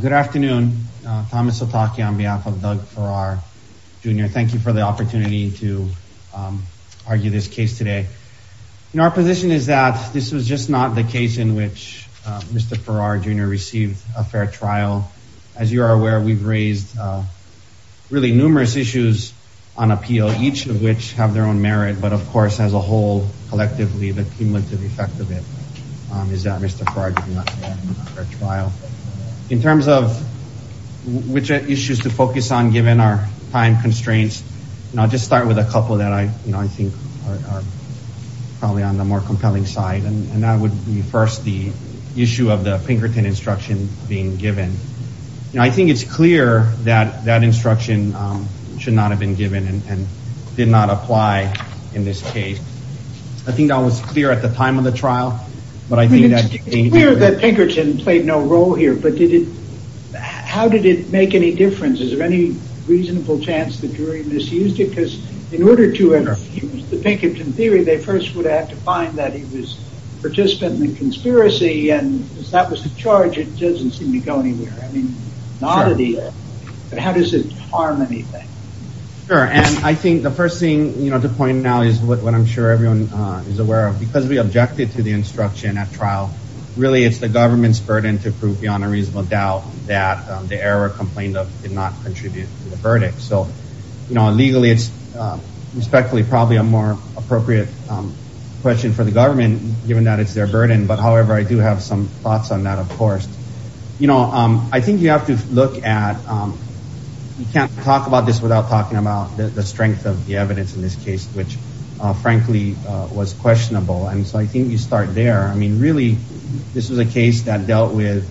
Good afternoon. Thomas Otake on behalf of Doug Farrar, Jr. Thank you for the opportunity to argue this case today. You know, our position is that this was just not the case in which Mr. Farrar, Jr. received a fair trial. As you are aware, we've raised really numerous issues on appeal, each of which have their own merit, but of course as a whole, collectively, the cumulative effect of is that Mr. Farrar did not receive a fair trial. In terms of which issues to focus on given our time constraints, I'll just start with a couple that I think are probably on the more compelling side, and that would be first the issue of the Pinkerton instruction being given. I think it's clear that that instruction should not have been given and did not apply in this case. I think that was clear at the time of the trial. It's clear that Pinkerton played no role here, but did it, how did it make any difference? Is there any reasonable chance the jury misused it? Because in order to interfuse the Pinkerton theory, they first would have to find that he was participant in the conspiracy, and if that was the charge, it doesn't seem to go anywhere. I mean, how does it harm anything? Sure, and I think the first thing, you know, to point out is what I'm sure everyone is aware of. Because we objected to the instruction at trial, really it's the government's burden to prove beyond a reasonable doubt that the error complained of did not contribute to the verdict. So, you know, legally it's respectfully probably a more appropriate question for the government given that it's their burden, but however, I do have some thoughts on that, of course. You know, I think you have to look at, you can't talk about this without talking about the strength of the evidence in this case. So, I think you start there. I mean, really, this was a case that dealt with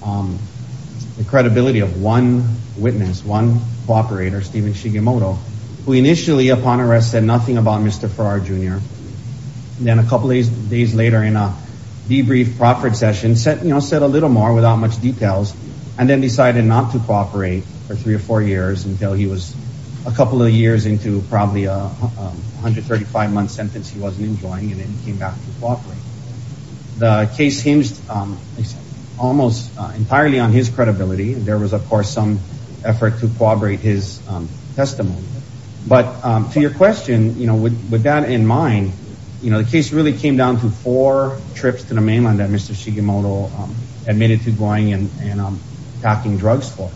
the credibility of one witness, one cooperator, Steven Shigemoto, who initially upon arrest said nothing about Mr. Farrar Jr., and then a couple of days later in a debrief proffered session, said, you know, said a little more without much details, and then decided not to cooperate for three or four years until he was a couple of years into probably a 135-month sentence he wasn't enjoying, and then he came back to cooperate. The case hinged almost entirely on his credibility. There was, of course, some effort to cooperate his testimony, but to your question, you know, with that in mind, you know, the case really came down to four trips to the mainland that Mr. Shigemoto admitted to going and packing drugs for.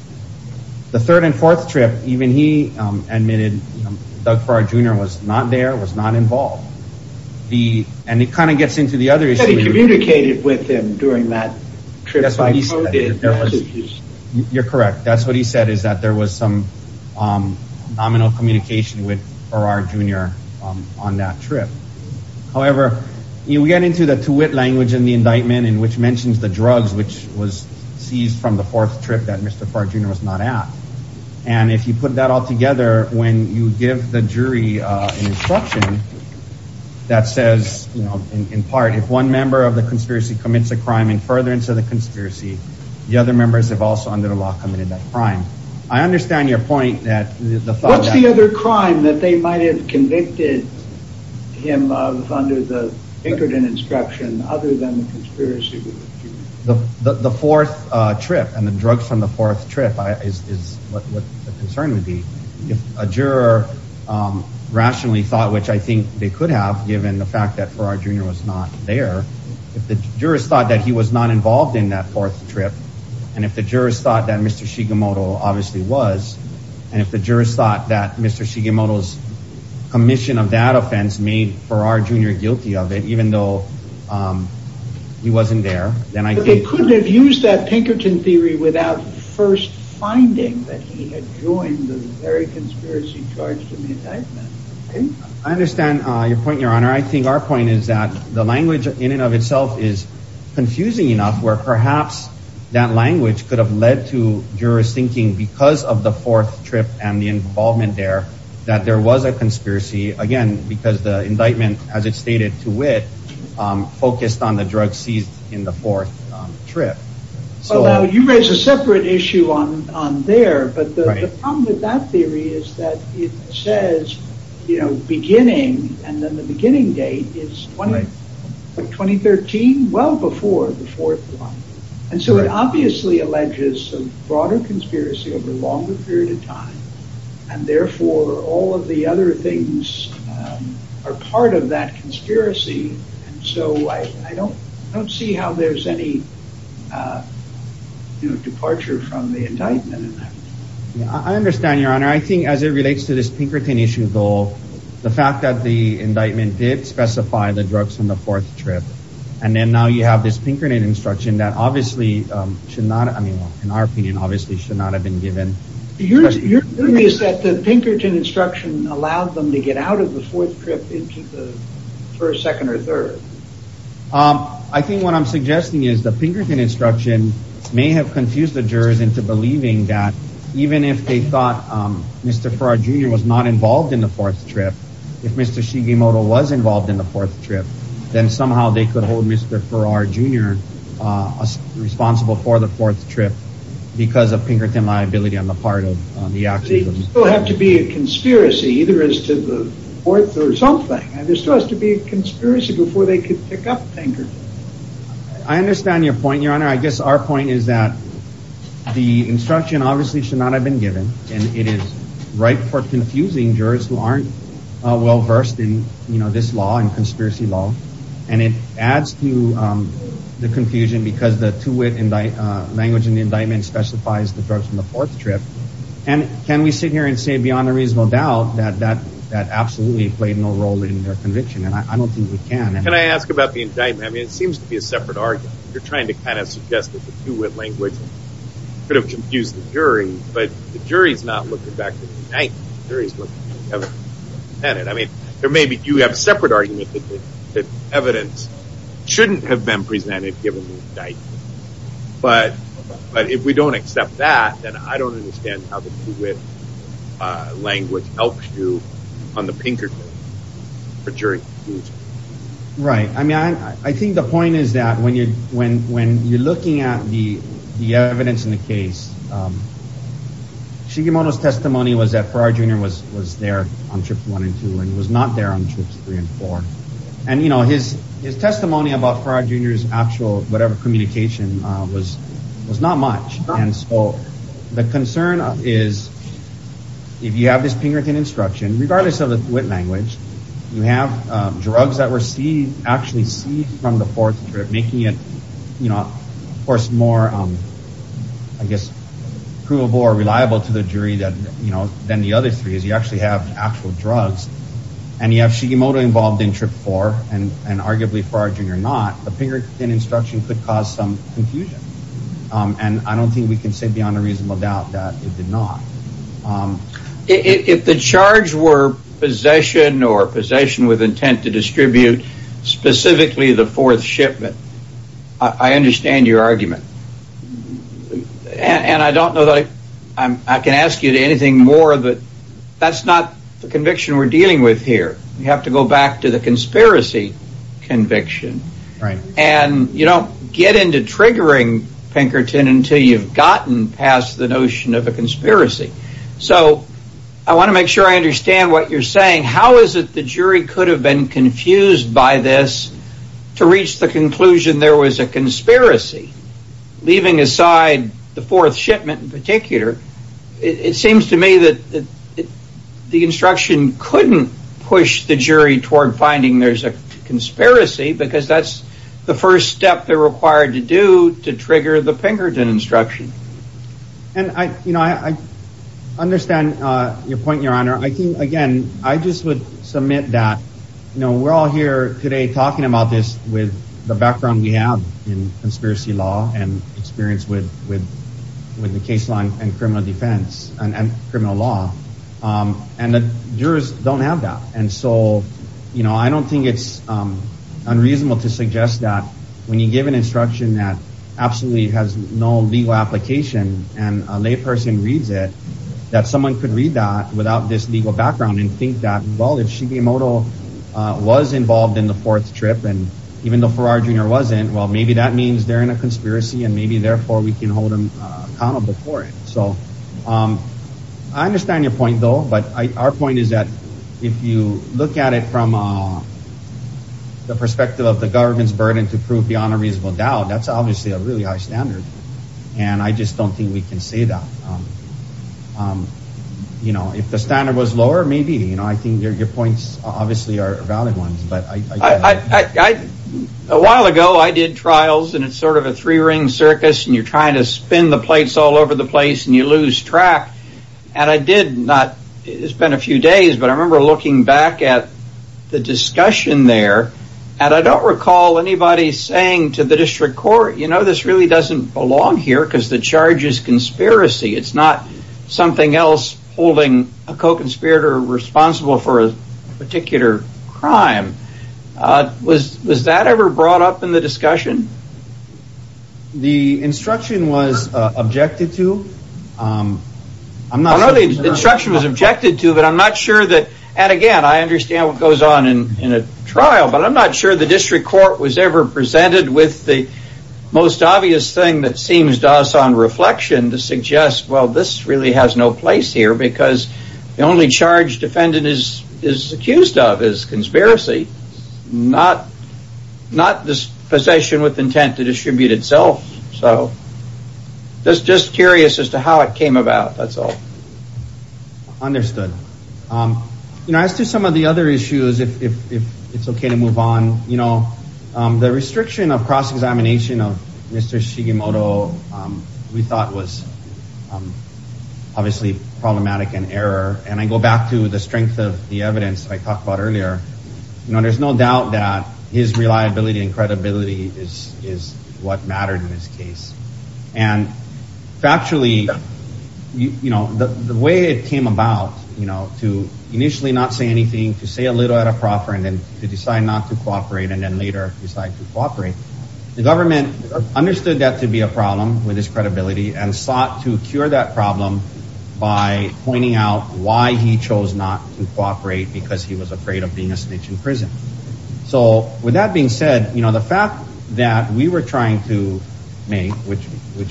The third and fourth trip, even he admitted Doug Farrar Jr. was not there, was not involved. The, and it kind of gets into the other issue. He communicated with him during that trip. You're correct. That's what he said, is that there was some nominal communication with Farrar Jr. on that trip. However, you get into the to wit language in the indictment, in which mentions the drugs, which was seized from the fourth trip that Mr. Farrar Jr. was not at. And if you put that all together, when you give the jury an instruction that says, you know, in part, if one member of the conspiracy commits a crime in furtherance of the conspiracy, the other members have also under the law committed that crime. I understand your point that... What's the other crime that they might have convicted him of under the Ingriden instruction other than the fourth trip and the drugs from the fourth trip is what the concern would be. If a juror rationally thought, which I think they could have given the fact that Farrar Jr. was not there, if the jurors thought that he was not involved in that fourth trip, and if the jurors thought that Mr. Shigemoto obviously was, and if the jurors thought that Mr. Shigemoto's commission of that offense made Farrar Jr. guilty of it, even though he wasn't there, then I think... Use that Pinkerton theory without first finding that he had joined the very conspiracy charged in the indictment. I understand your point, Your Honor. I think our point is that the language in and of itself is confusing enough where perhaps that language could have led to jurors thinking, because of the fourth trip and the involvement there, that there was a conspiracy, again, because the You raise a separate issue on there, but the problem with that theory is that it says, you know, beginning, and then the beginning date is 2013, well before the fourth one, and so it obviously alleges some broader conspiracy over a longer period of time, and therefore all of the other things are part of that departure from the indictment. I understand, Your Honor. I think as it relates to this Pinkerton issue, though, the fact that the indictment did specify the drugs from the fourth trip, and then now you have this Pinkerton instruction that obviously should not, I mean, in our opinion, obviously should not have been given. Your theory is that the Pinkerton instruction allowed them to get out of the fourth trip into the first, second, or third. I think what I'm suggesting is the Pinkerton instruction may have confused the jurors into believing that even if they thought Mr. Farrar Jr. was not involved in the fourth trip, if Mr. Shigemoto was involved in the fourth trip, then somehow they could hold Mr. Farrar Jr. responsible for the fourth trip because of Pinkerton liability on the part of the actors. There still has to be a conspiracy, either as to the fourth or something. There still has to be a conspiracy before they could pick up Pinkerton. I understand your point, Your Honor. I guess our point is that the instruction obviously should not have been given, and it is ripe for confusing jurors who aren't well versed in, you know, this law and conspiracy law. And it adds to the confusion because the two-way language in the indictment specifies the drugs from the fourth trip. And can we sit here and say beyond a reasonable doubt that that absolutely played no role in their conviction? And I mean, it seems to be a separate argument. You're trying to kind of suggest that the two-way language could have confused the jury, but the jury's not looking back at the indictment. The jury's looking at the evidence presented. I mean, there may be, you have a separate argument that the evidence shouldn't have been presented given the indictment. But if we don't accept that, then I don't understand how the two-way language helps you on the Pinkerton for jury confusion. Right. I mean, I think the point is that when you're looking at the evidence in the case, Shigemoto's testimony was that Farrar Jr. was there on trips one and two, and was not there on trips three and four. And you know, his testimony about Farrar Jr.'s actual whatever communication was not much. And so the concern is if you have this Pinkerton instruction, regardless of the wit language, you have drugs that were actually seized from the fourth trip, making it, you know, of course more, I guess, provable or reliable to the jury that, you know, than the other three is you actually have actual drugs. And you have Shigemoto involved in trip four, and arguably Farrar Jr. not, the Pinkerton instruction could cause some confusion. And I don't think we can say beyond a reasonable doubt that it did charge were possession or possession with intent to distribute specifically the fourth shipment. I understand your argument. And I don't know that I can ask you to anything more, but that's not the conviction we're dealing with here. You have to go back to the conspiracy conviction. Right. And you don't get into triggering Pinkerton until you've gotten past the notion of conspiracy. So I want to make sure I understand what you're saying. How is it the jury could have been confused by this to reach the conclusion there was a conspiracy? Leaving aside the fourth shipment in particular, it seems to me that the instruction couldn't push the jury toward finding there's a conspiracy because that's the first step they're required to do to trigger the Pinkerton instruction. I understand your point, your honor. I think, again, I just would submit that we're all here today talking about this with the background we have in conspiracy law and experience with the case line and criminal defense and criminal law. And the jurors don't have that. And so, you know, I don't think it's unreasonable to suggest that when you give an instruction that has no legal application and a layperson reads it, that someone could read that without this legal background and think that, well, if Shigemoto was involved in the fourth trip and even though Farrar Jr. wasn't, well, maybe that means they're in a conspiracy and maybe therefore we can hold him accountable for it. So I understand your point, though, but our point is that if you look at it from the perspective of the government's burden to prove beyond a reasonable doubt, that's obviously a really high standard. And I just don't think we can say that. You know, if the standard was lower, maybe, you know, I think your points obviously are valid ones. I, a while ago I did trials and it's sort of a three ring circus and you're trying to spin the plates all over the place and you lose track. And I did not, it's been a few days, but I remember looking back at the discussion there and I don't recall anybody saying to the district court, you know, this really doesn't belong here because the charge is conspiracy. It's not something else holding a co-conspirator responsible for a particular crime. Was that ever brought up in the discussion? The instruction was objected to. I know the instruction was objected to, but I'm not sure that, and again, I understand what goes on in a trial, but I'm not sure the district court was ever presented with the most obvious thing that seems to us on reflection to suggest, well, this really has no place here because the only charge defendant is accused of is conspiracy, not this possession with intent to distribute itself. So just curious as to how it came about. That's all. Understood. You know, as to some of the other issues, if it's okay to move on, you know, the restriction of cross-examination of Mr. Shigemoto, we thought was obviously problematic and error. And I go back to the strength of the evidence I talked about earlier. You know, there's no doubt that his reliability and credibility is what mattered in this case. And factually, you know, the way it came about, you know, to initially not say anything, to say a little at a proffer, and then to decide not to cooperate, and then later decide to cooperate, the government understood that to be a problem with his credibility and sought to cure that problem by pointing out why he chose not to cooperate because he was afraid of being a snitch in prison. So with that being said, you know, the fact that we were trying to make, which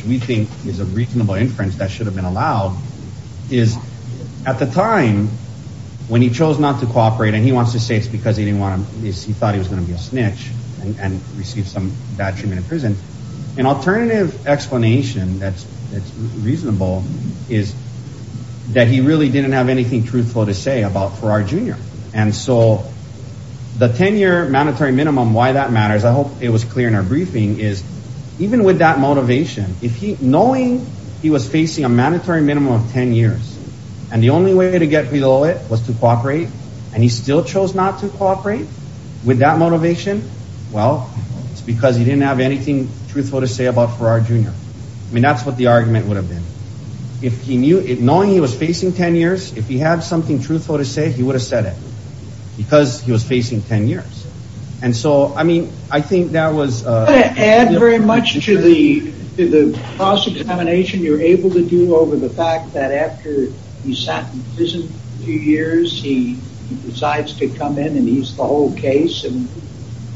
we think is a problem, at the time, when he chose not to cooperate and he wants to say it's because he didn't want to, he thought he was gonna be a snitch and received some bad treatment in prison, an alternative explanation that's reasonable is that he really didn't have anything truthful to say about Farrar Jr. And so the 10-year mandatory minimum, why that matters, I hope it was clear in our briefing, is even with that motivation, if he, knowing he was facing a mandatory minimum of 10 years, and the only way to get below it was to cooperate, and he still chose not to cooperate, with that motivation, well, it's because he didn't have anything truthful to say about Farrar Jr. I mean, that's what the argument would have been. If he knew, knowing he was facing 10 years, if he had something truthful to say, he would have said it, because he was facing 10 years. And so, I mean, I think that was... I'm not going to add very much to the cross-examination you're able to do over the years. After he sat in prison a few years, he decides to come in, and he's the whole case, and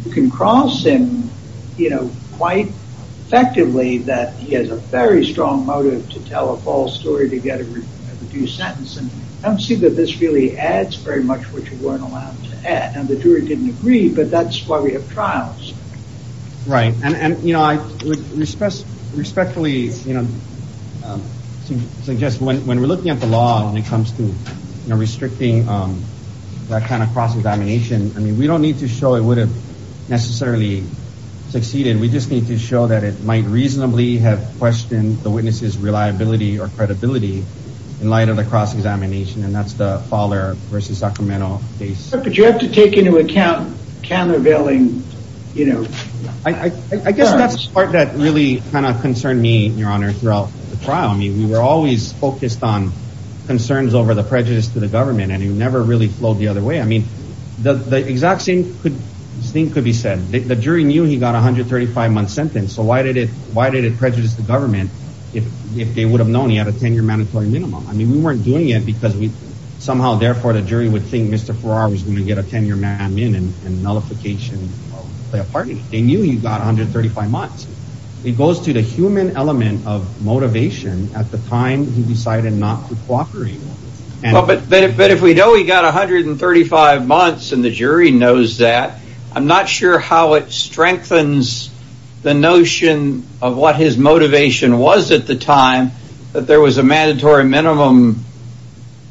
you can cross him, you know, quite effectively, that he has a very strong motive to tell a false story to get a reduced sentence, and I don't see that this really adds very much what you weren't allowed to add, and the jury didn't agree, but that's why we have trials. Right, and, you know, I would respectfully, you know, suggest, when we're looking at the law, when it comes to, you know, restricting that kind of cross-examination, I mean, we don't need to show it would have necessarily succeeded. We just need to show that it might reasonably have questioned the witness's reliability or credibility in light of the cross-examination, and that's the Farrar versus Sacramento case. But you have to take into account countervailing, you know... I guess that's part that really kind of concerned me, Your Honor, throughout the trial. I mean, we were always focused on concerns over the prejudice to the government, and it never really flowed the other way. I mean, the exact same thing could be said. The jury knew he got a 135-month sentence, so why did it prejudice the government if they would have known he had a 10-year mandatory minimum? I mean, we weren't doing it because we somehow, therefore, the jury would think Mr. Farrar was going to get a 10-year man in and nullification by a party. They knew he got 135 months. It goes to the human element of motivation at the time he decided not to cooperate. But if we know he got 135 months and the jury knows that, I'm not sure how it strengthens the notion of what his motivation was at the time that there was a mandatory minimum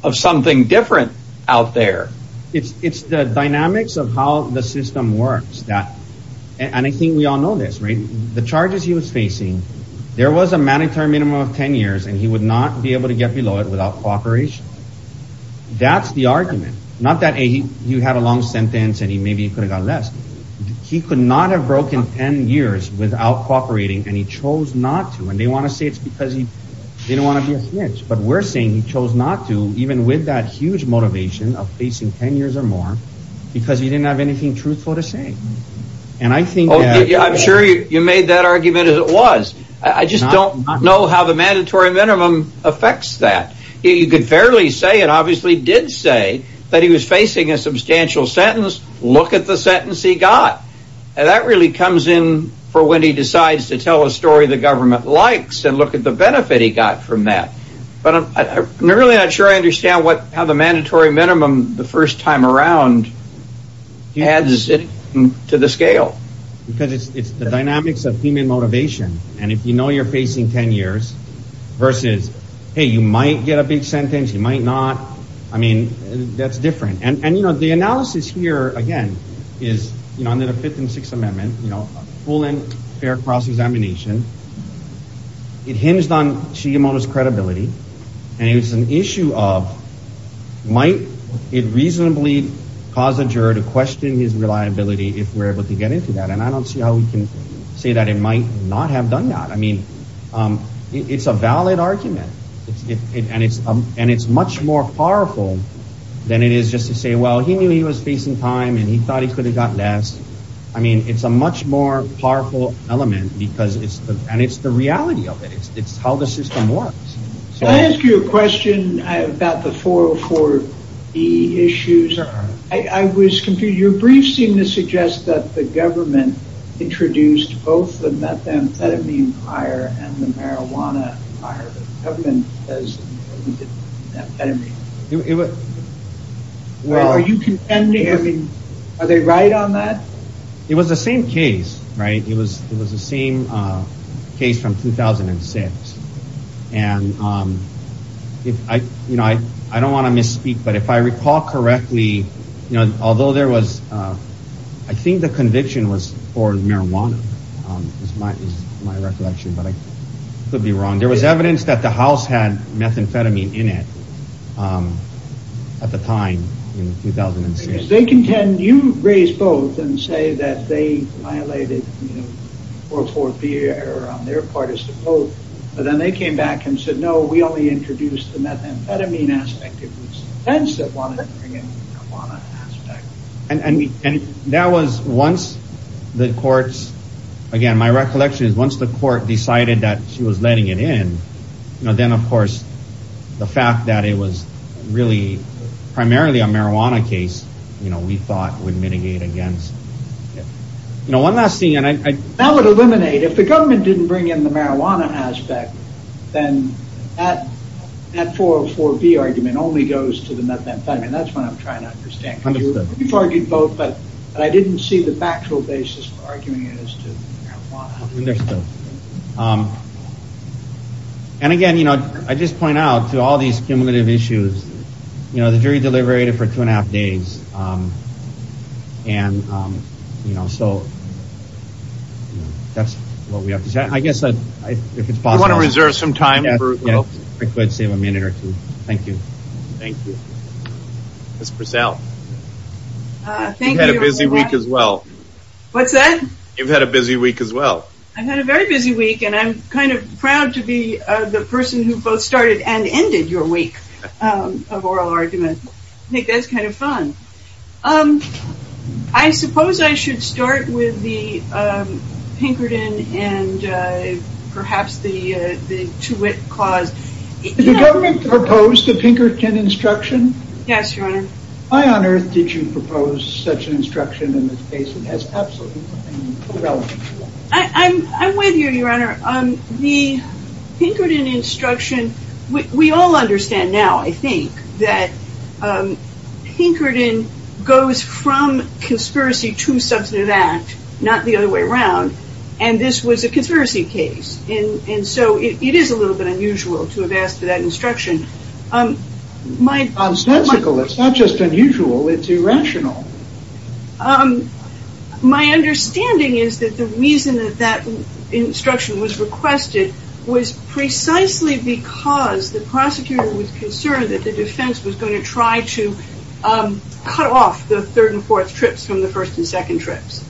of something different out there. It's the dynamics of how the system works. And I think we all know this, right? The charges he was facing, there was a mandatory minimum of 10 years and he would not be able to get below it without cooperation. That's the argument. Not that he had a long sentence and he maybe could have got less. He could not have broken 10 years without cooperating, and he chose not to. And they want to say it's because he didn't want to be a snitch. But we're saying he chose not to, even with that huge motivation of facing 10 years or more, because he didn't have anything truthful to say. I'm sure you made that argument as it was. I just don't know how the mandatory minimum affects that. You could fairly say and obviously did say that he was facing a substantial sentence. Look at the sentence he got. That really comes in for when he decides to tell a story the government likes and look at the benefit he got from that. But I'm really not sure I understand what how the mandatory minimum the first time around adds to the scale. Because it's the dynamics of human motivation and if you know you're facing 10 years versus hey you might get a big sentence, you might not. I mean that's different. And you know the analysis here again is you know under the fifth and sixth amendment, you know, full and fair cross-examination. It hinged on might it reasonably cause a juror to question his reliability if we're able to get into that. And I don't see how we can say that it might not have done that. I mean it's a valid argument and it's much more powerful than it is just to say well he knew he was facing time and he thought he could have got less. I mean it's a much more powerful element because it's and it's the 404 B issues. I was confused. Your brief seemed to suggest that the government introduced both the methamphetamine prior and the marijuana prior. Are you contending? Are they right on that? It was the same case, right? It was the same case. I don't want to misspeak but if I recall correctly, although there was, I think the conviction was for marijuana. There was evidence that the house had methamphetamine in it at the time in 2006. They contend you raised both and say that they violated 404 B on their part as to both but then they came back and said no, we only introduced the methamphetamine. And that was once the courts, again my recollection is once the court decided that she was letting it in, then of course the fact that it was really primarily a marijuana case, you know, we thought would mitigate against. One last thing. That would eliminate, if the government didn't bring in the marijuana aspect, then that 404 B argument only goes to the methamphetamine. That's what I'm trying to understand. You argued both but I didn't see the factual basis for arguing it as to marijuana. And again, you know, I just point out to all these cumulative issues, you know, the jury deliberated for two and a half days and, you know, so that's what we have to say. I guess that if it's possible to reserve some time. Yeah, I could save a minute or two. Thank you. Thank you. Miss Purcell. Thank you. Had a busy week as well. What's that? You've had a busy week as well. I've had a very busy week and I'm kind of proud to be the person who both started and ended your week of oral argument. I think that's kind of fun. I suppose I should start with the Pinkerton and perhaps the Twit clause. Did the government propose the Pinkerton instruction? Yes, your honor. Why on earth did you propose such an instruction in this case? It has absolutely nothing relevant to it. I'm with you, your honor. The Pinkerton instruction, we all understand now, I think, that Pinkerton goes from conspiracy to substantive act, not the other way around. And this was a conspiracy case. And so it is a little bit unusual to have asked for that instruction. It's not just unusual, it's irrational. My understanding is that the reason that that instruction was requested was precisely because the prosecutor was concerned that the defense was going to try to cut off the third and fourth trips from the first and second trips.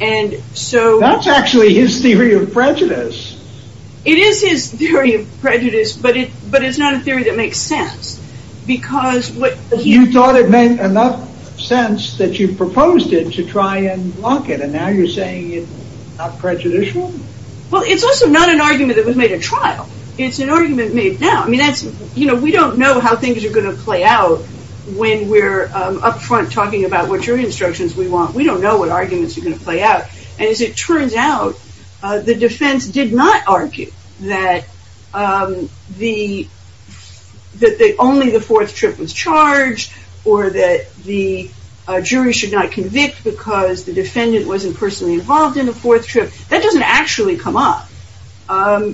That's actually his theory of prejudice. It is his theory of prejudice, but it's not a theory that makes sense. You thought it made enough sense that you proposed it to try and not prejudicial? Well, it's also not an argument that was made at trial. It's an argument made now. I mean, that's, you know, we don't know how things are going to play out when we're up front talking about what jury instructions we want. We don't know what arguments are going to play out. And as it turns out, the defense did not argue that only the fourth trip was charged or that the jury should not convict because the defendant wasn't personally involved in the fourth trip. That doesn't actually come up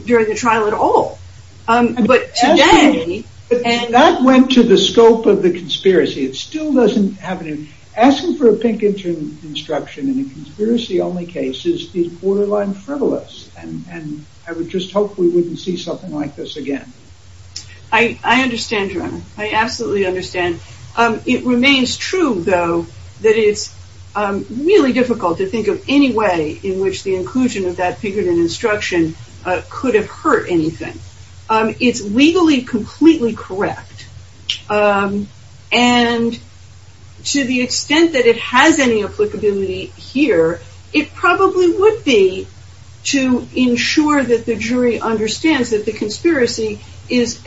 during the trial at all. But today... That went to the scope of the conspiracy. It still doesn't happen. Asking for a pink instruction in a conspiracy only case is borderline frivolous. And I would just hope we wouldn't see something like this again. I understand, Joanna. I absolutely understand. It remains true, though, that it's really difficult to think of any way in which the inclusion of that fingerprint instruction could have hurt anything. It's legally completely correct. And to the extent that it has any applicability here, it probably would be to ensure that the jury understands that the conspiracy is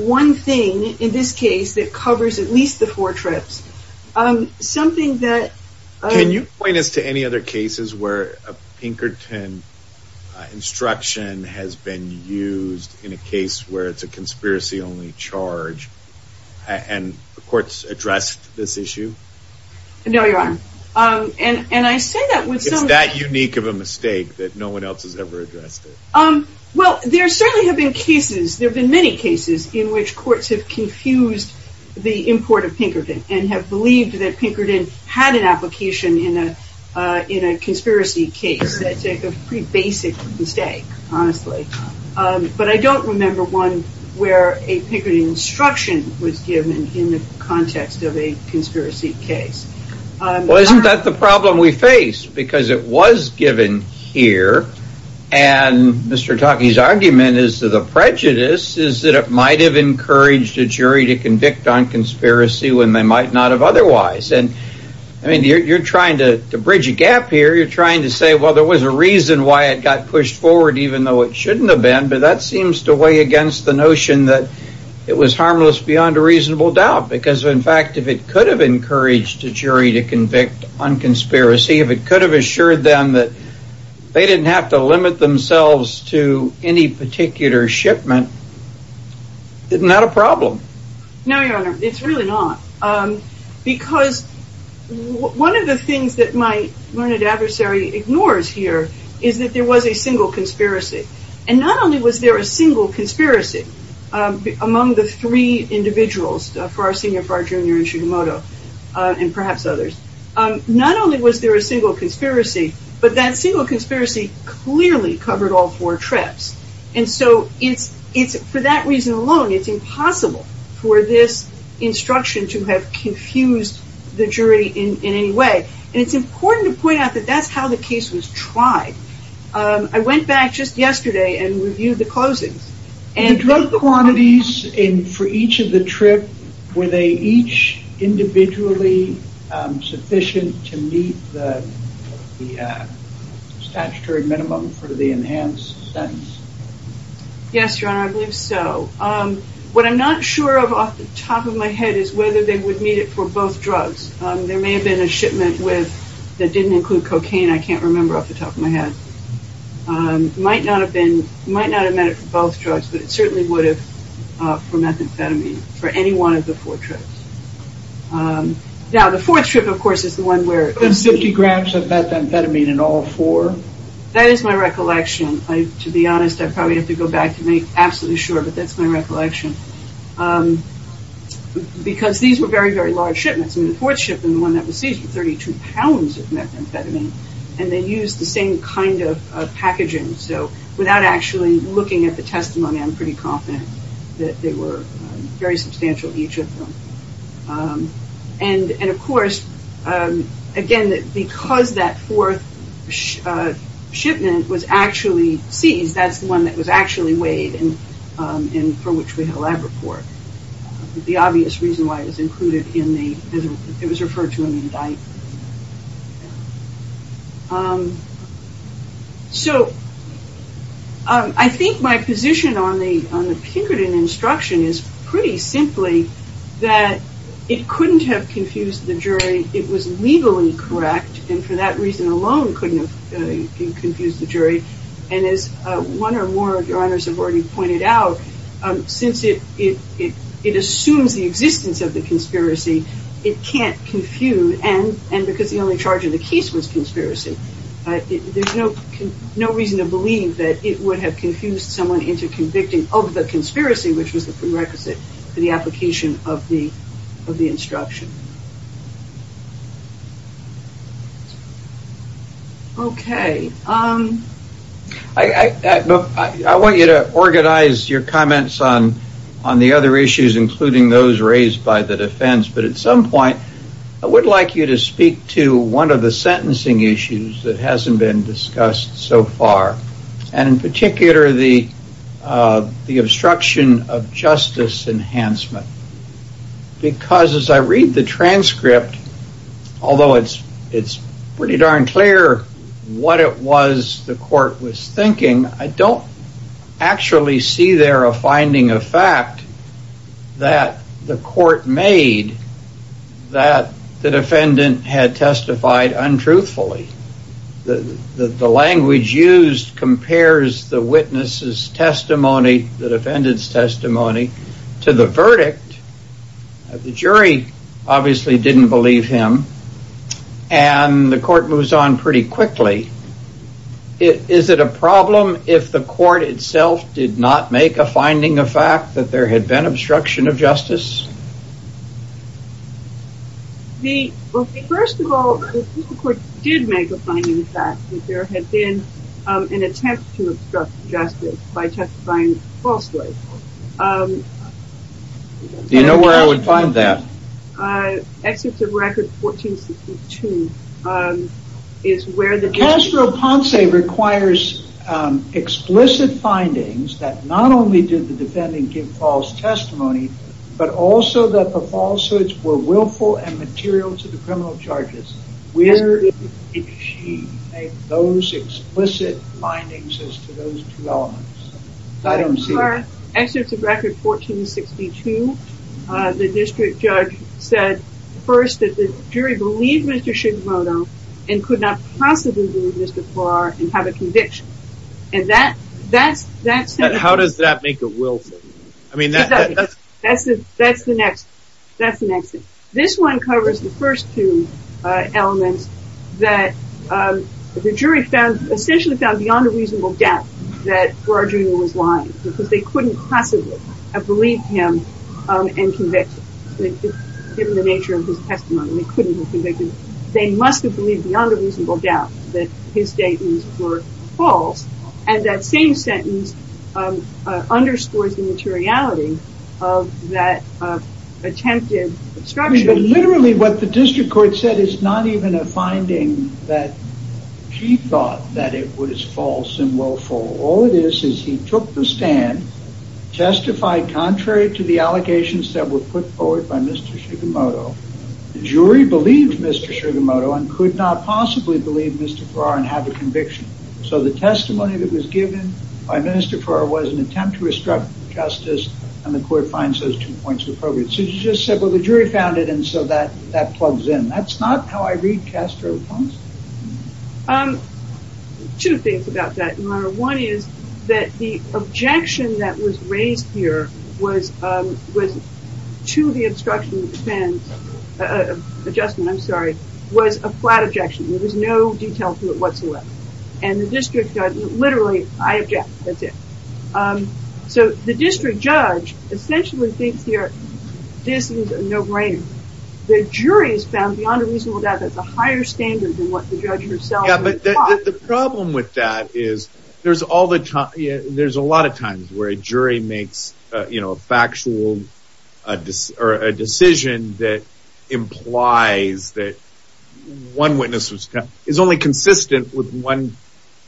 one thing in this case that covers at least the four trips. Something that... Can you point us to any other cases where a Pinkerton instruction has been used in a case where it's a conspiracy only charge and the courts addressed this issue? No, Your Honor. And I say that with some... It's that unique of a mistake that no one else has ever addressed it. Well, there certainly have been cases. There have been many cases in which courts have confused the import of Pinkerton and have believed that Pinkerton had an application in a conspiracy case. That's a pretty basic mistake, honestly. But I don't remember one where a Pinkerton instruction was given in the context of a conspiracy case. Well, isn't that the problem we face? Because it was given here. And Mr. Taki's argument is that the prejudice is that it might have encouraged a jury to convict on conspiracy when they might not have otherwise. And you're trying to bridge a gap here. You're trying to say, well, there was a reason why it got pushed forward, even though it shouldn't have been. But that seems to weigh against the notion that it was harmless beyond a reasonable doubt. Because, in fact, if it could have encouraged a jury to convict on conspiracy, if it could have assured them that they didn't have to limit themselves to any particular shipment, isn't that a problem? No, Your Honor. It's really not. Because one of the things that my learned adversary ignores here is that there was a single conspiracy. And not only was there a single conspiracy among the three individuals, Farr Senior, Farr Junior, and Sugimoto, and perhaps others, not only was there a single conspiracy, but that single conspiracy clearly covered all four traps. And so for that reason alone, it's impossible for this instruction to have confused the jury in any way. And it's important to point out that that's how the case was tried. I went back just yesterday and reviewed the closings. Were the drug quantities for each of the trip, were they each individually sufficient to meet the statutory minimum for the enhanced sentence? Yes, Your Honor, I believe so. What I'm not sure of off the top of my head is whether they would meet it for both drugs. There may have been a shipment that didn't include cocaine, I can't remember off the top of my head. Might not have been, might not have met it for both drugs, but it certainly would have for methamphetamine for any one of the four trips. Now, the fourth trip, of course, is the one where... The 50 grams of methamphetamine in all four? That is my recollection. To be honest, I probably have to go back to make absolutely sure, but that's my recollection. Because these were very, very large shipments. And the fourth shipment, the one that was seized, was 32 pounds of methamphetamine. And they used the same kind of packaging. So without actually looking at the testimony, I'm pretty confident that they were very substantial each of them. And of course, again, because that fourth shipment was actually seized, that's the one that was actually weighed and for which we have a lab report. The obvious reason why it was included in the... It was referred to in the indictment. So I think my position on the Pinkerton instruction is pretty simply that it couldn't have confused the jury. It was legally correct. And for that reason alone, couldn't have confused the jury. And as one or more of your colleagues pointed out, since it assumes the existence of the conspiracy, it can't confuse. And because the only charge of the case was conspiracy, there's no reason to believe that it would have confused someone into convicting of the conspiracy, which was the prerequisite for the application of the instruction. Okay. I want you to organize your comments on the other issues, including those raised by the defense. But at some point, I would like you to speak to one of the sentencing issues that hasn't been discussed so far. And in particular, the obstruction of justice enhancement. Because as I read the transcript, although it's pretty darn clear what it was the court was thinking, I don't actually see there a finding of fact that the court made that the defendant had testified untruthfully. The language used compares the witness's testimony, the defendant's testimony, to the verdict of the defendant, who obviously didn't believe him. And the court moves on pretty quickly. Is it a problem if the court itself did not make a finding of fact that there had been obstruction of justice? The first of all, the court did make a finding of fact that there had been an attempt to obstruct justice by testifying falsely. Do you know where I would find that? Excerpt of record 1462. Castro Ponce requires explicit findings that not only did the defendant give false testimony, but also that the falsehoods were willful and material to the criminal charges. Where did she make those explicit findings as to those two elements? Excerpt of record 1462. The district judge said first that the jury believed Mr. Sugimoto and could not possibly believe Mr. Farr and have a conviction. How does that make a willful? That's the next. That's the next. This one covers the first two elements that the jury found essentially found beyond a reasonable doubt that Rodrigo was lying because they couldn't possibly have believed him and convicted given the nature of his testimony. They couldn't have convicted. They must have believed beyond a reasonable doubt that his statements were false. And that same sentence underscores the materiality of that attempted obstruction. Literally what the district court said is not even a finding that she thought that it was false and willful. All it is, is he took the stand, testified contrary to the allegations that were put forward by Mr. Sugimoto. The jury believed Mr. Sugimoto and could not possibly believe Mr. Farr and have a conviction. So the testimony that was given by Mr. Farr was an attempt to obstruct justice. And the court finds those two points were appropriate. So that plugs in. That's not how I read Castro poems. Two things about that. One is that the objection that was raised here was to the obstruction of defense, adjustment, I'm sorry, was a flat objection. There was no detail to it whatsoever. And the district judge literally, I object, that's it. So the district judge essentially thinks here, this is a no the jury's found beyond a reasonable doubt that's a higher standard than what the judge herself thought. The problem with that is there's a lot of times where a jury makes a factual decision that implies that one witness is only consistent with one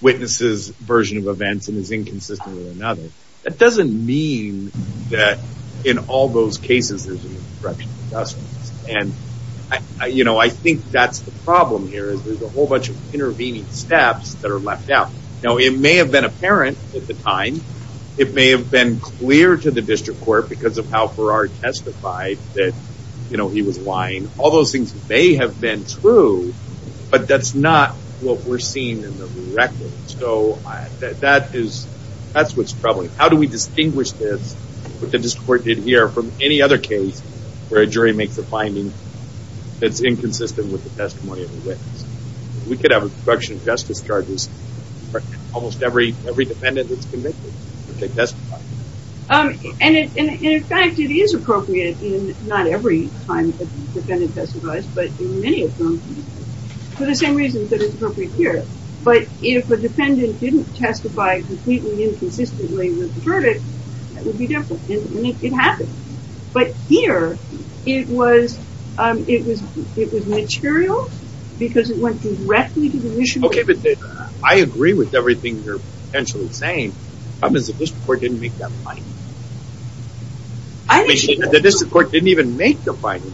witness's version of events and is inconsistent with And, you know, I think that's the problem here is there's a whole bunch of intervening steps that are left out. Now, it may have been apparent at the time, it may have been clear to the district court because of how Farrar testified that, you know, he was lying, all those things may have been true. But that's not what we're seeing in the record. So that is, that's what's troubling. How do we distinguish this? What the district did here from any other case where a jury makes a finding that's inconsistent with the testimony of the witness? We could have a production of justice charges for almost every, every defendant that's convicted that they testified. Um, and in fact, it is appropriate in not every time the defendant testified, but in many of them for the same reasons that it's appropriate here. But if a defendant didn't testify completely inconsistently with the verdict, that here it was, um, it was, it was material because it went directly to the mission. Okay. But I agree with everything you're potentially saying. Problem is the district court didn't make that finding. The district court didn't even make the finding.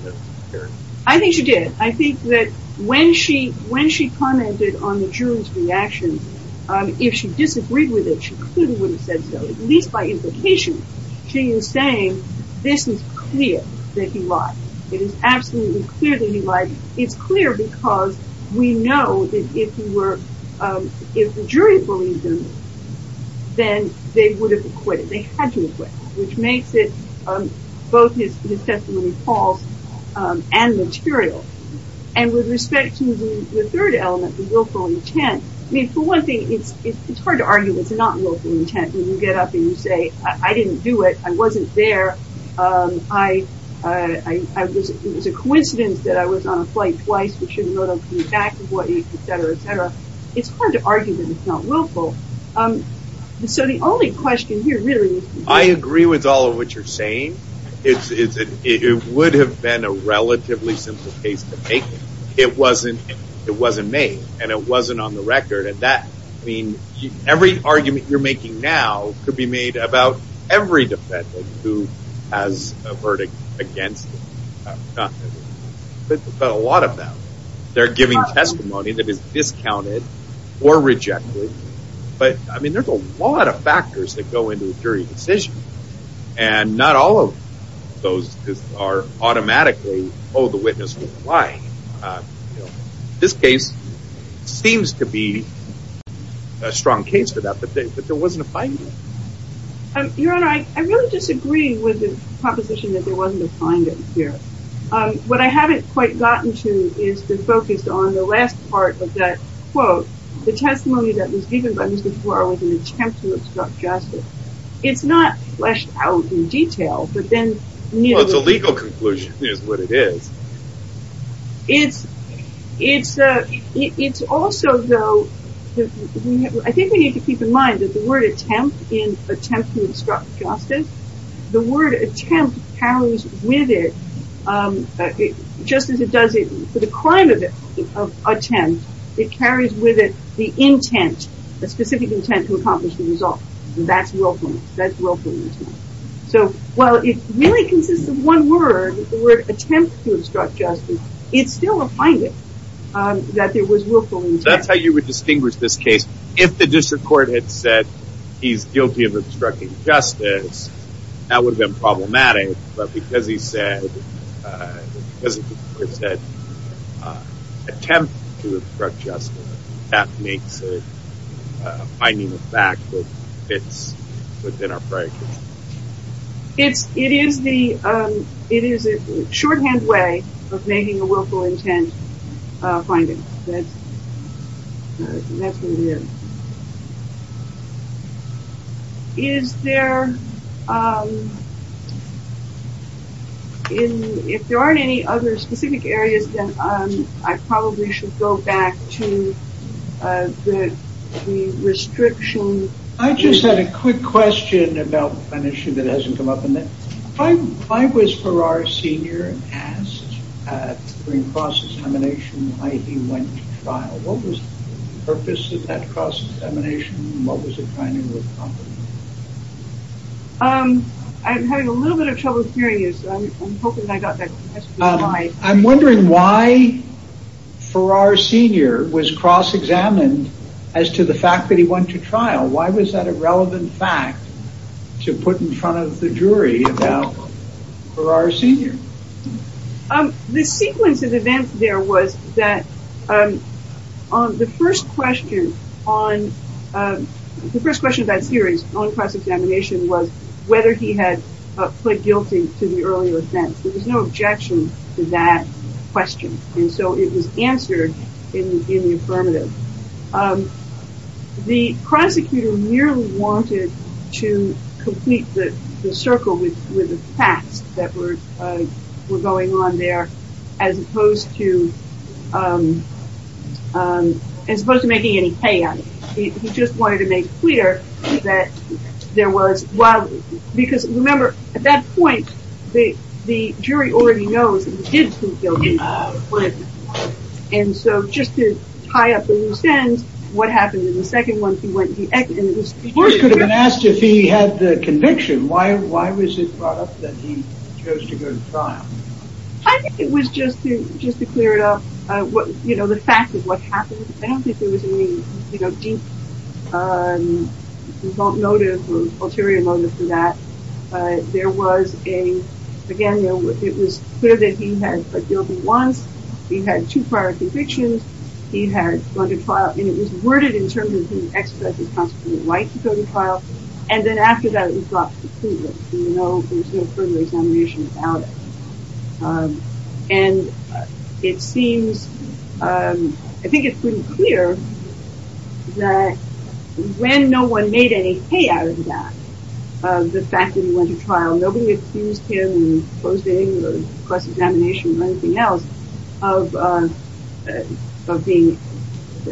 I think she did. I think that when she, when she commented on the jury's reaction, um, if she disagreed with it, she clearly would have said so, at least it's clear that he lied. It is absolutely clear that he lied. It's clear because we know that if you were, um, if the jury believed them, then they would have acquitted. They had to acquit, which makes it, um, both his testimony false, um, and material. And with respect to the third element, the willful intent, I mean, for one thing, it's, it's, it's hard to argue it's not you get up and you say, I didn't do it. I wasn't there. Um, I, uh, I, I was, it was a coincidence that I was on a flight twice. We shouldn't go to the back of Hawaii, et cetera, et cetera. It's hard to argue that it's not willful. Um, and so the only question here really is, I agree with all of what you're saying. It's, it's, it would have been a relatively simple case to take. It wasn't, it wasn't made and it wasn't on the record at that. I mean, every argument you're making now could be made about every defendant who has a verdict against them. But a lot of them, they're giving testimony that is discounted or rejected. But I mean, there's a lot of factors that go into a jury decision and not all of those are automatically, oh, the witness was lying. Uh, you know, this case seems to be a strong case for that, but there wasn't a finding. Um, your Honor, I really disagree with the proposition that there wasn't a finding here. Um, what I haven't quite gotten to is the focus on the last part of that quote, the testimony that was given by Mr. Tuara was an attempt to obstruct justice. It's not fleshed out in detail, but then, you know, it's a also though, I think we need to keep in mind that the word attempt in attempt to obstruct justice, the word attempt carries with it, um, just as it does for the crime of it, of attempt, it carries with it the intent, the specific intent to accomplish the result. And that's willfulness. That's willfulness. So while it really consists of one word, the word attempt to obstruct justice, it's still a finding, um, that there was willfulness. That's how you would distinguish this case. If the district court had said he's guilty of obstructing justice, that would have been problematic. But because he said, uh, because he said, uh, attempt to obstruct justice, that makes it a finding of fact that fits within our prior case. It's, it is the, um, it is a shorthand way of making a willful intent, uh, finding. That's, that's what it is. Is there, um, in, if there aren't any other specific areas that, um, I probably should go back to, uh, the, the restriction. I just had a quick question about an issue that hasn't come up in that. Why, why was Farrar Sr. asked, uh, during cross-examination why he went to trial? What was the purpose of that cross-examination? What was it trying to accomplish? Um, I'm having a little bit of trouble hearing you, so I'm hoping I got that question right. Um, I'm wondering why Farrar Sr. was cross-examined as to the fact that he went to to put in front of the jury about Farrar Sr. Um, the sequence of events there was that, um, on the first question on, um, the first question of that series on cross-examination was whether he had pled guilty to the earlier offense. There was no objection to that question, and so it was answered in, in the affirmative. Um, the prosecutor merely wanted to complete the, the circle with, with the facts that were, uh, were going on there as opposed to, um, um, as opposed to making any payout. He just wanted to make clear that there was, well, because remember, at that point, the, the jury already knows that he did plead guilty, but, and so just to tie up the loose ends, what happened in the second one, he went, he, and it was, of course, could have been asked if he had the conviction. Why, why was it brought up that he chose to go to trial? I think it was just to, just to clear it up, uh, what, you know, the fact of what happened. I don't think there was any, you know, deep, um, result motive or ulterior motive for that. Uh, there was a, again, it was clear that he had pled guilty once, he had two prior convictions, he had gone to trial, and it was worded in terms of he expressed his constant delight to go to trial, and then after that, it was dropped completely. You know, there's no further examination about it. Um, and it seems, um, I think it's pretty clear that when no one made any payout of that, uh, the fact that he went to trial, nobody accused him of closing or cross-examination or anything else of, uh, of being,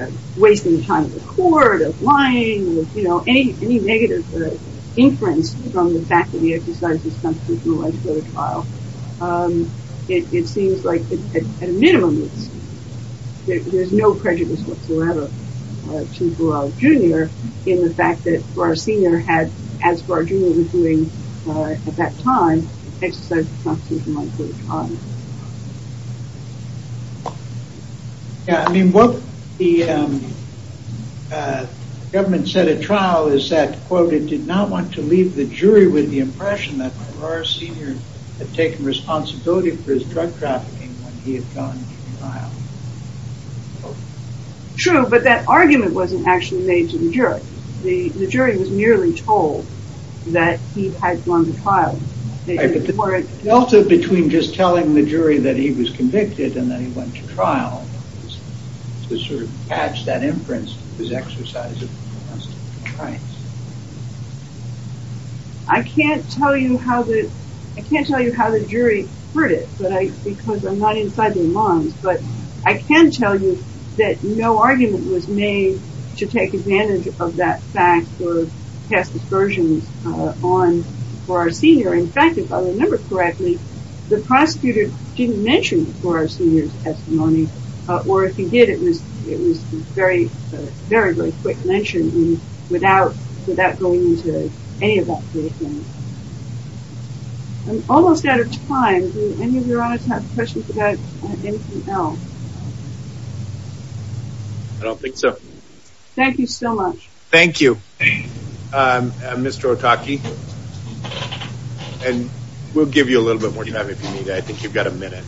uh, wasting time at the court, of lying, or, you know, any, any negative, uh, inference from the fact that he exercised his constitutional right to go to trial. Um, it, it seems like, at a minimum, it's, there's no prejudice whatsoever, uh, to Burrell Jr. in the fact that Burr Sr. had, as Burr Jr. was doing, uh, at that time, exercised his constitutional right to go to trial. Yeah, I mean, what the, um, uh, government said at trial is that, quote, it did not want to leave the jury with the impression that Burr Sr. had taken responsibility for his drug trafficking when he had gone to trial. True, but that argument wasn't actually made to the jury. The, the jury was merely told that he had gone to trial. Right, but the delta between just telling the jury that he was convicted and that he went to trial is to sort of patch that inference, his exercise of constitutional rights. I can't tell you how the, I can't tell you how the jury heard it, but I, because I'm not inside their minds, but I can tell you that no argument was made to take advantage of that fact or cast aspersions, uh, on Burr Sr. In fact, if I remember correctly, the prosecutor didn't mention Burr Sr.'s testimony, uh, or if he did, it was, it was very, very, very quick mention without, without going into any of that sort of thing. I'm almost out of time. Do any of your honorees have questions about anything else? I don't think so. Thank you so much. Thank you. Um, uh, Mr. Otake, and we'll give you a little bit more time if you need it. I think you've got a minute.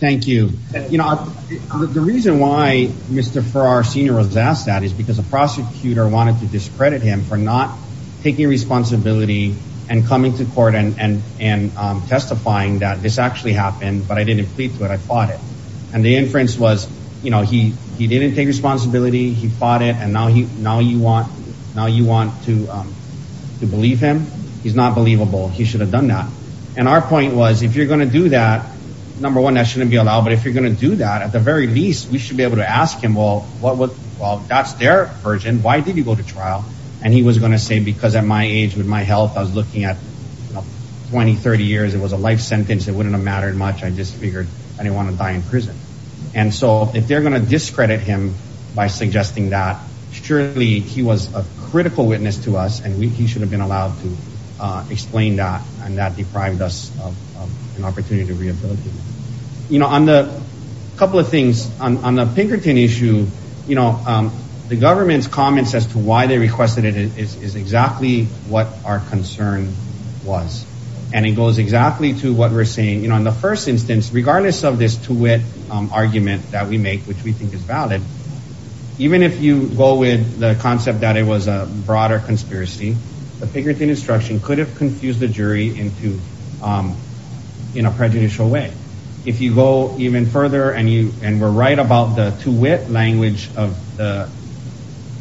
Thank you. You know, the reason why Mr. Burr Sr. was asked that is because the prosecutor wanted to discredit him for not taking responsibility and coming to court and, and, and, um, testifying that this actually happened, but I didn't plead to it. I fought it. And the inference was, you know, he, he didn't take responsibility. He fought it. And now he, now you want, now you want to, um, to believe him? He's not believable. He should have done that. And our point was, if you're going to do that, number one, that shouldn't be allowed. But if you're going to do that, at the very least, we should be able to ask him, well, what would, well, that's their version. Why did you go to trial? And he was going to say, because at my age, with my health, I was looking at 20, 30 years, it was a life sentence. It wouldn't have mattered much. I just figured I didn't want to And so if they're going to discredit him by suggesting that, surely he was a critical witness to us and we, he should have been allowed to explain that. And that deprived us of an opportunity to rehabilitate. You know, on the couple of things on, on the Pinkerton issue, you know, um, the government's comments as to why they requested it is, is exactly what our concern was. And it goes exactly to what we're saying, you know, in the first instance, regardless of this two-wit argument that we make, which we think is valid. Even if you go with the concept that it was a broader conspiracy, the Pinkerton instruction could have confused the jury into, um, in a prejudicial way. If you go even further and you, and we're right about the two-wit language of the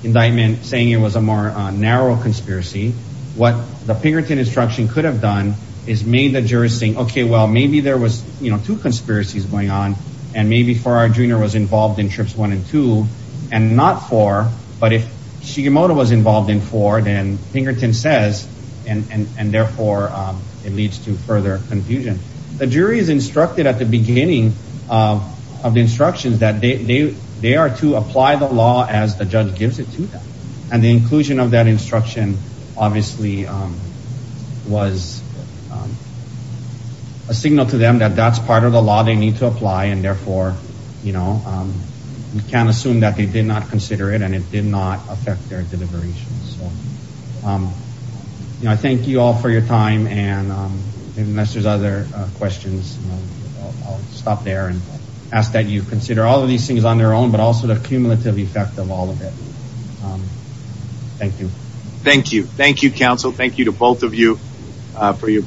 indictment saying it was a more narrow conspiracy, what the Pinkerton instruction could have done is made the jurors think, okay, well, maybe there was, you know, two conspiracies going on and maybe Farrar Jr. was involved in trips one and two and not four. But if Shigemoto was involved in four, then Pinkerton says, and, and, and therefore, um, it leads to further confusion. The jury is instructed at the beginning of, of the instructions that they, they, they are to apply the law as the judge gives it to them. And the inclusion of that instruction obviously, um, was, um, a signal to them that that's part of the law they need to apply. And therefore, you know, um, we can't assume that they did not consider it and it did not affect their deliberations. So, um, you know, I thank you all for your time. And, um, unless there's other, uh, questions, I'll stop there and ask that you consider all of these things on their own, but also the cumulative effect of all of it. Um, thank you. Thank you. Thank you, counsel. Thank you to both of you, uh, for your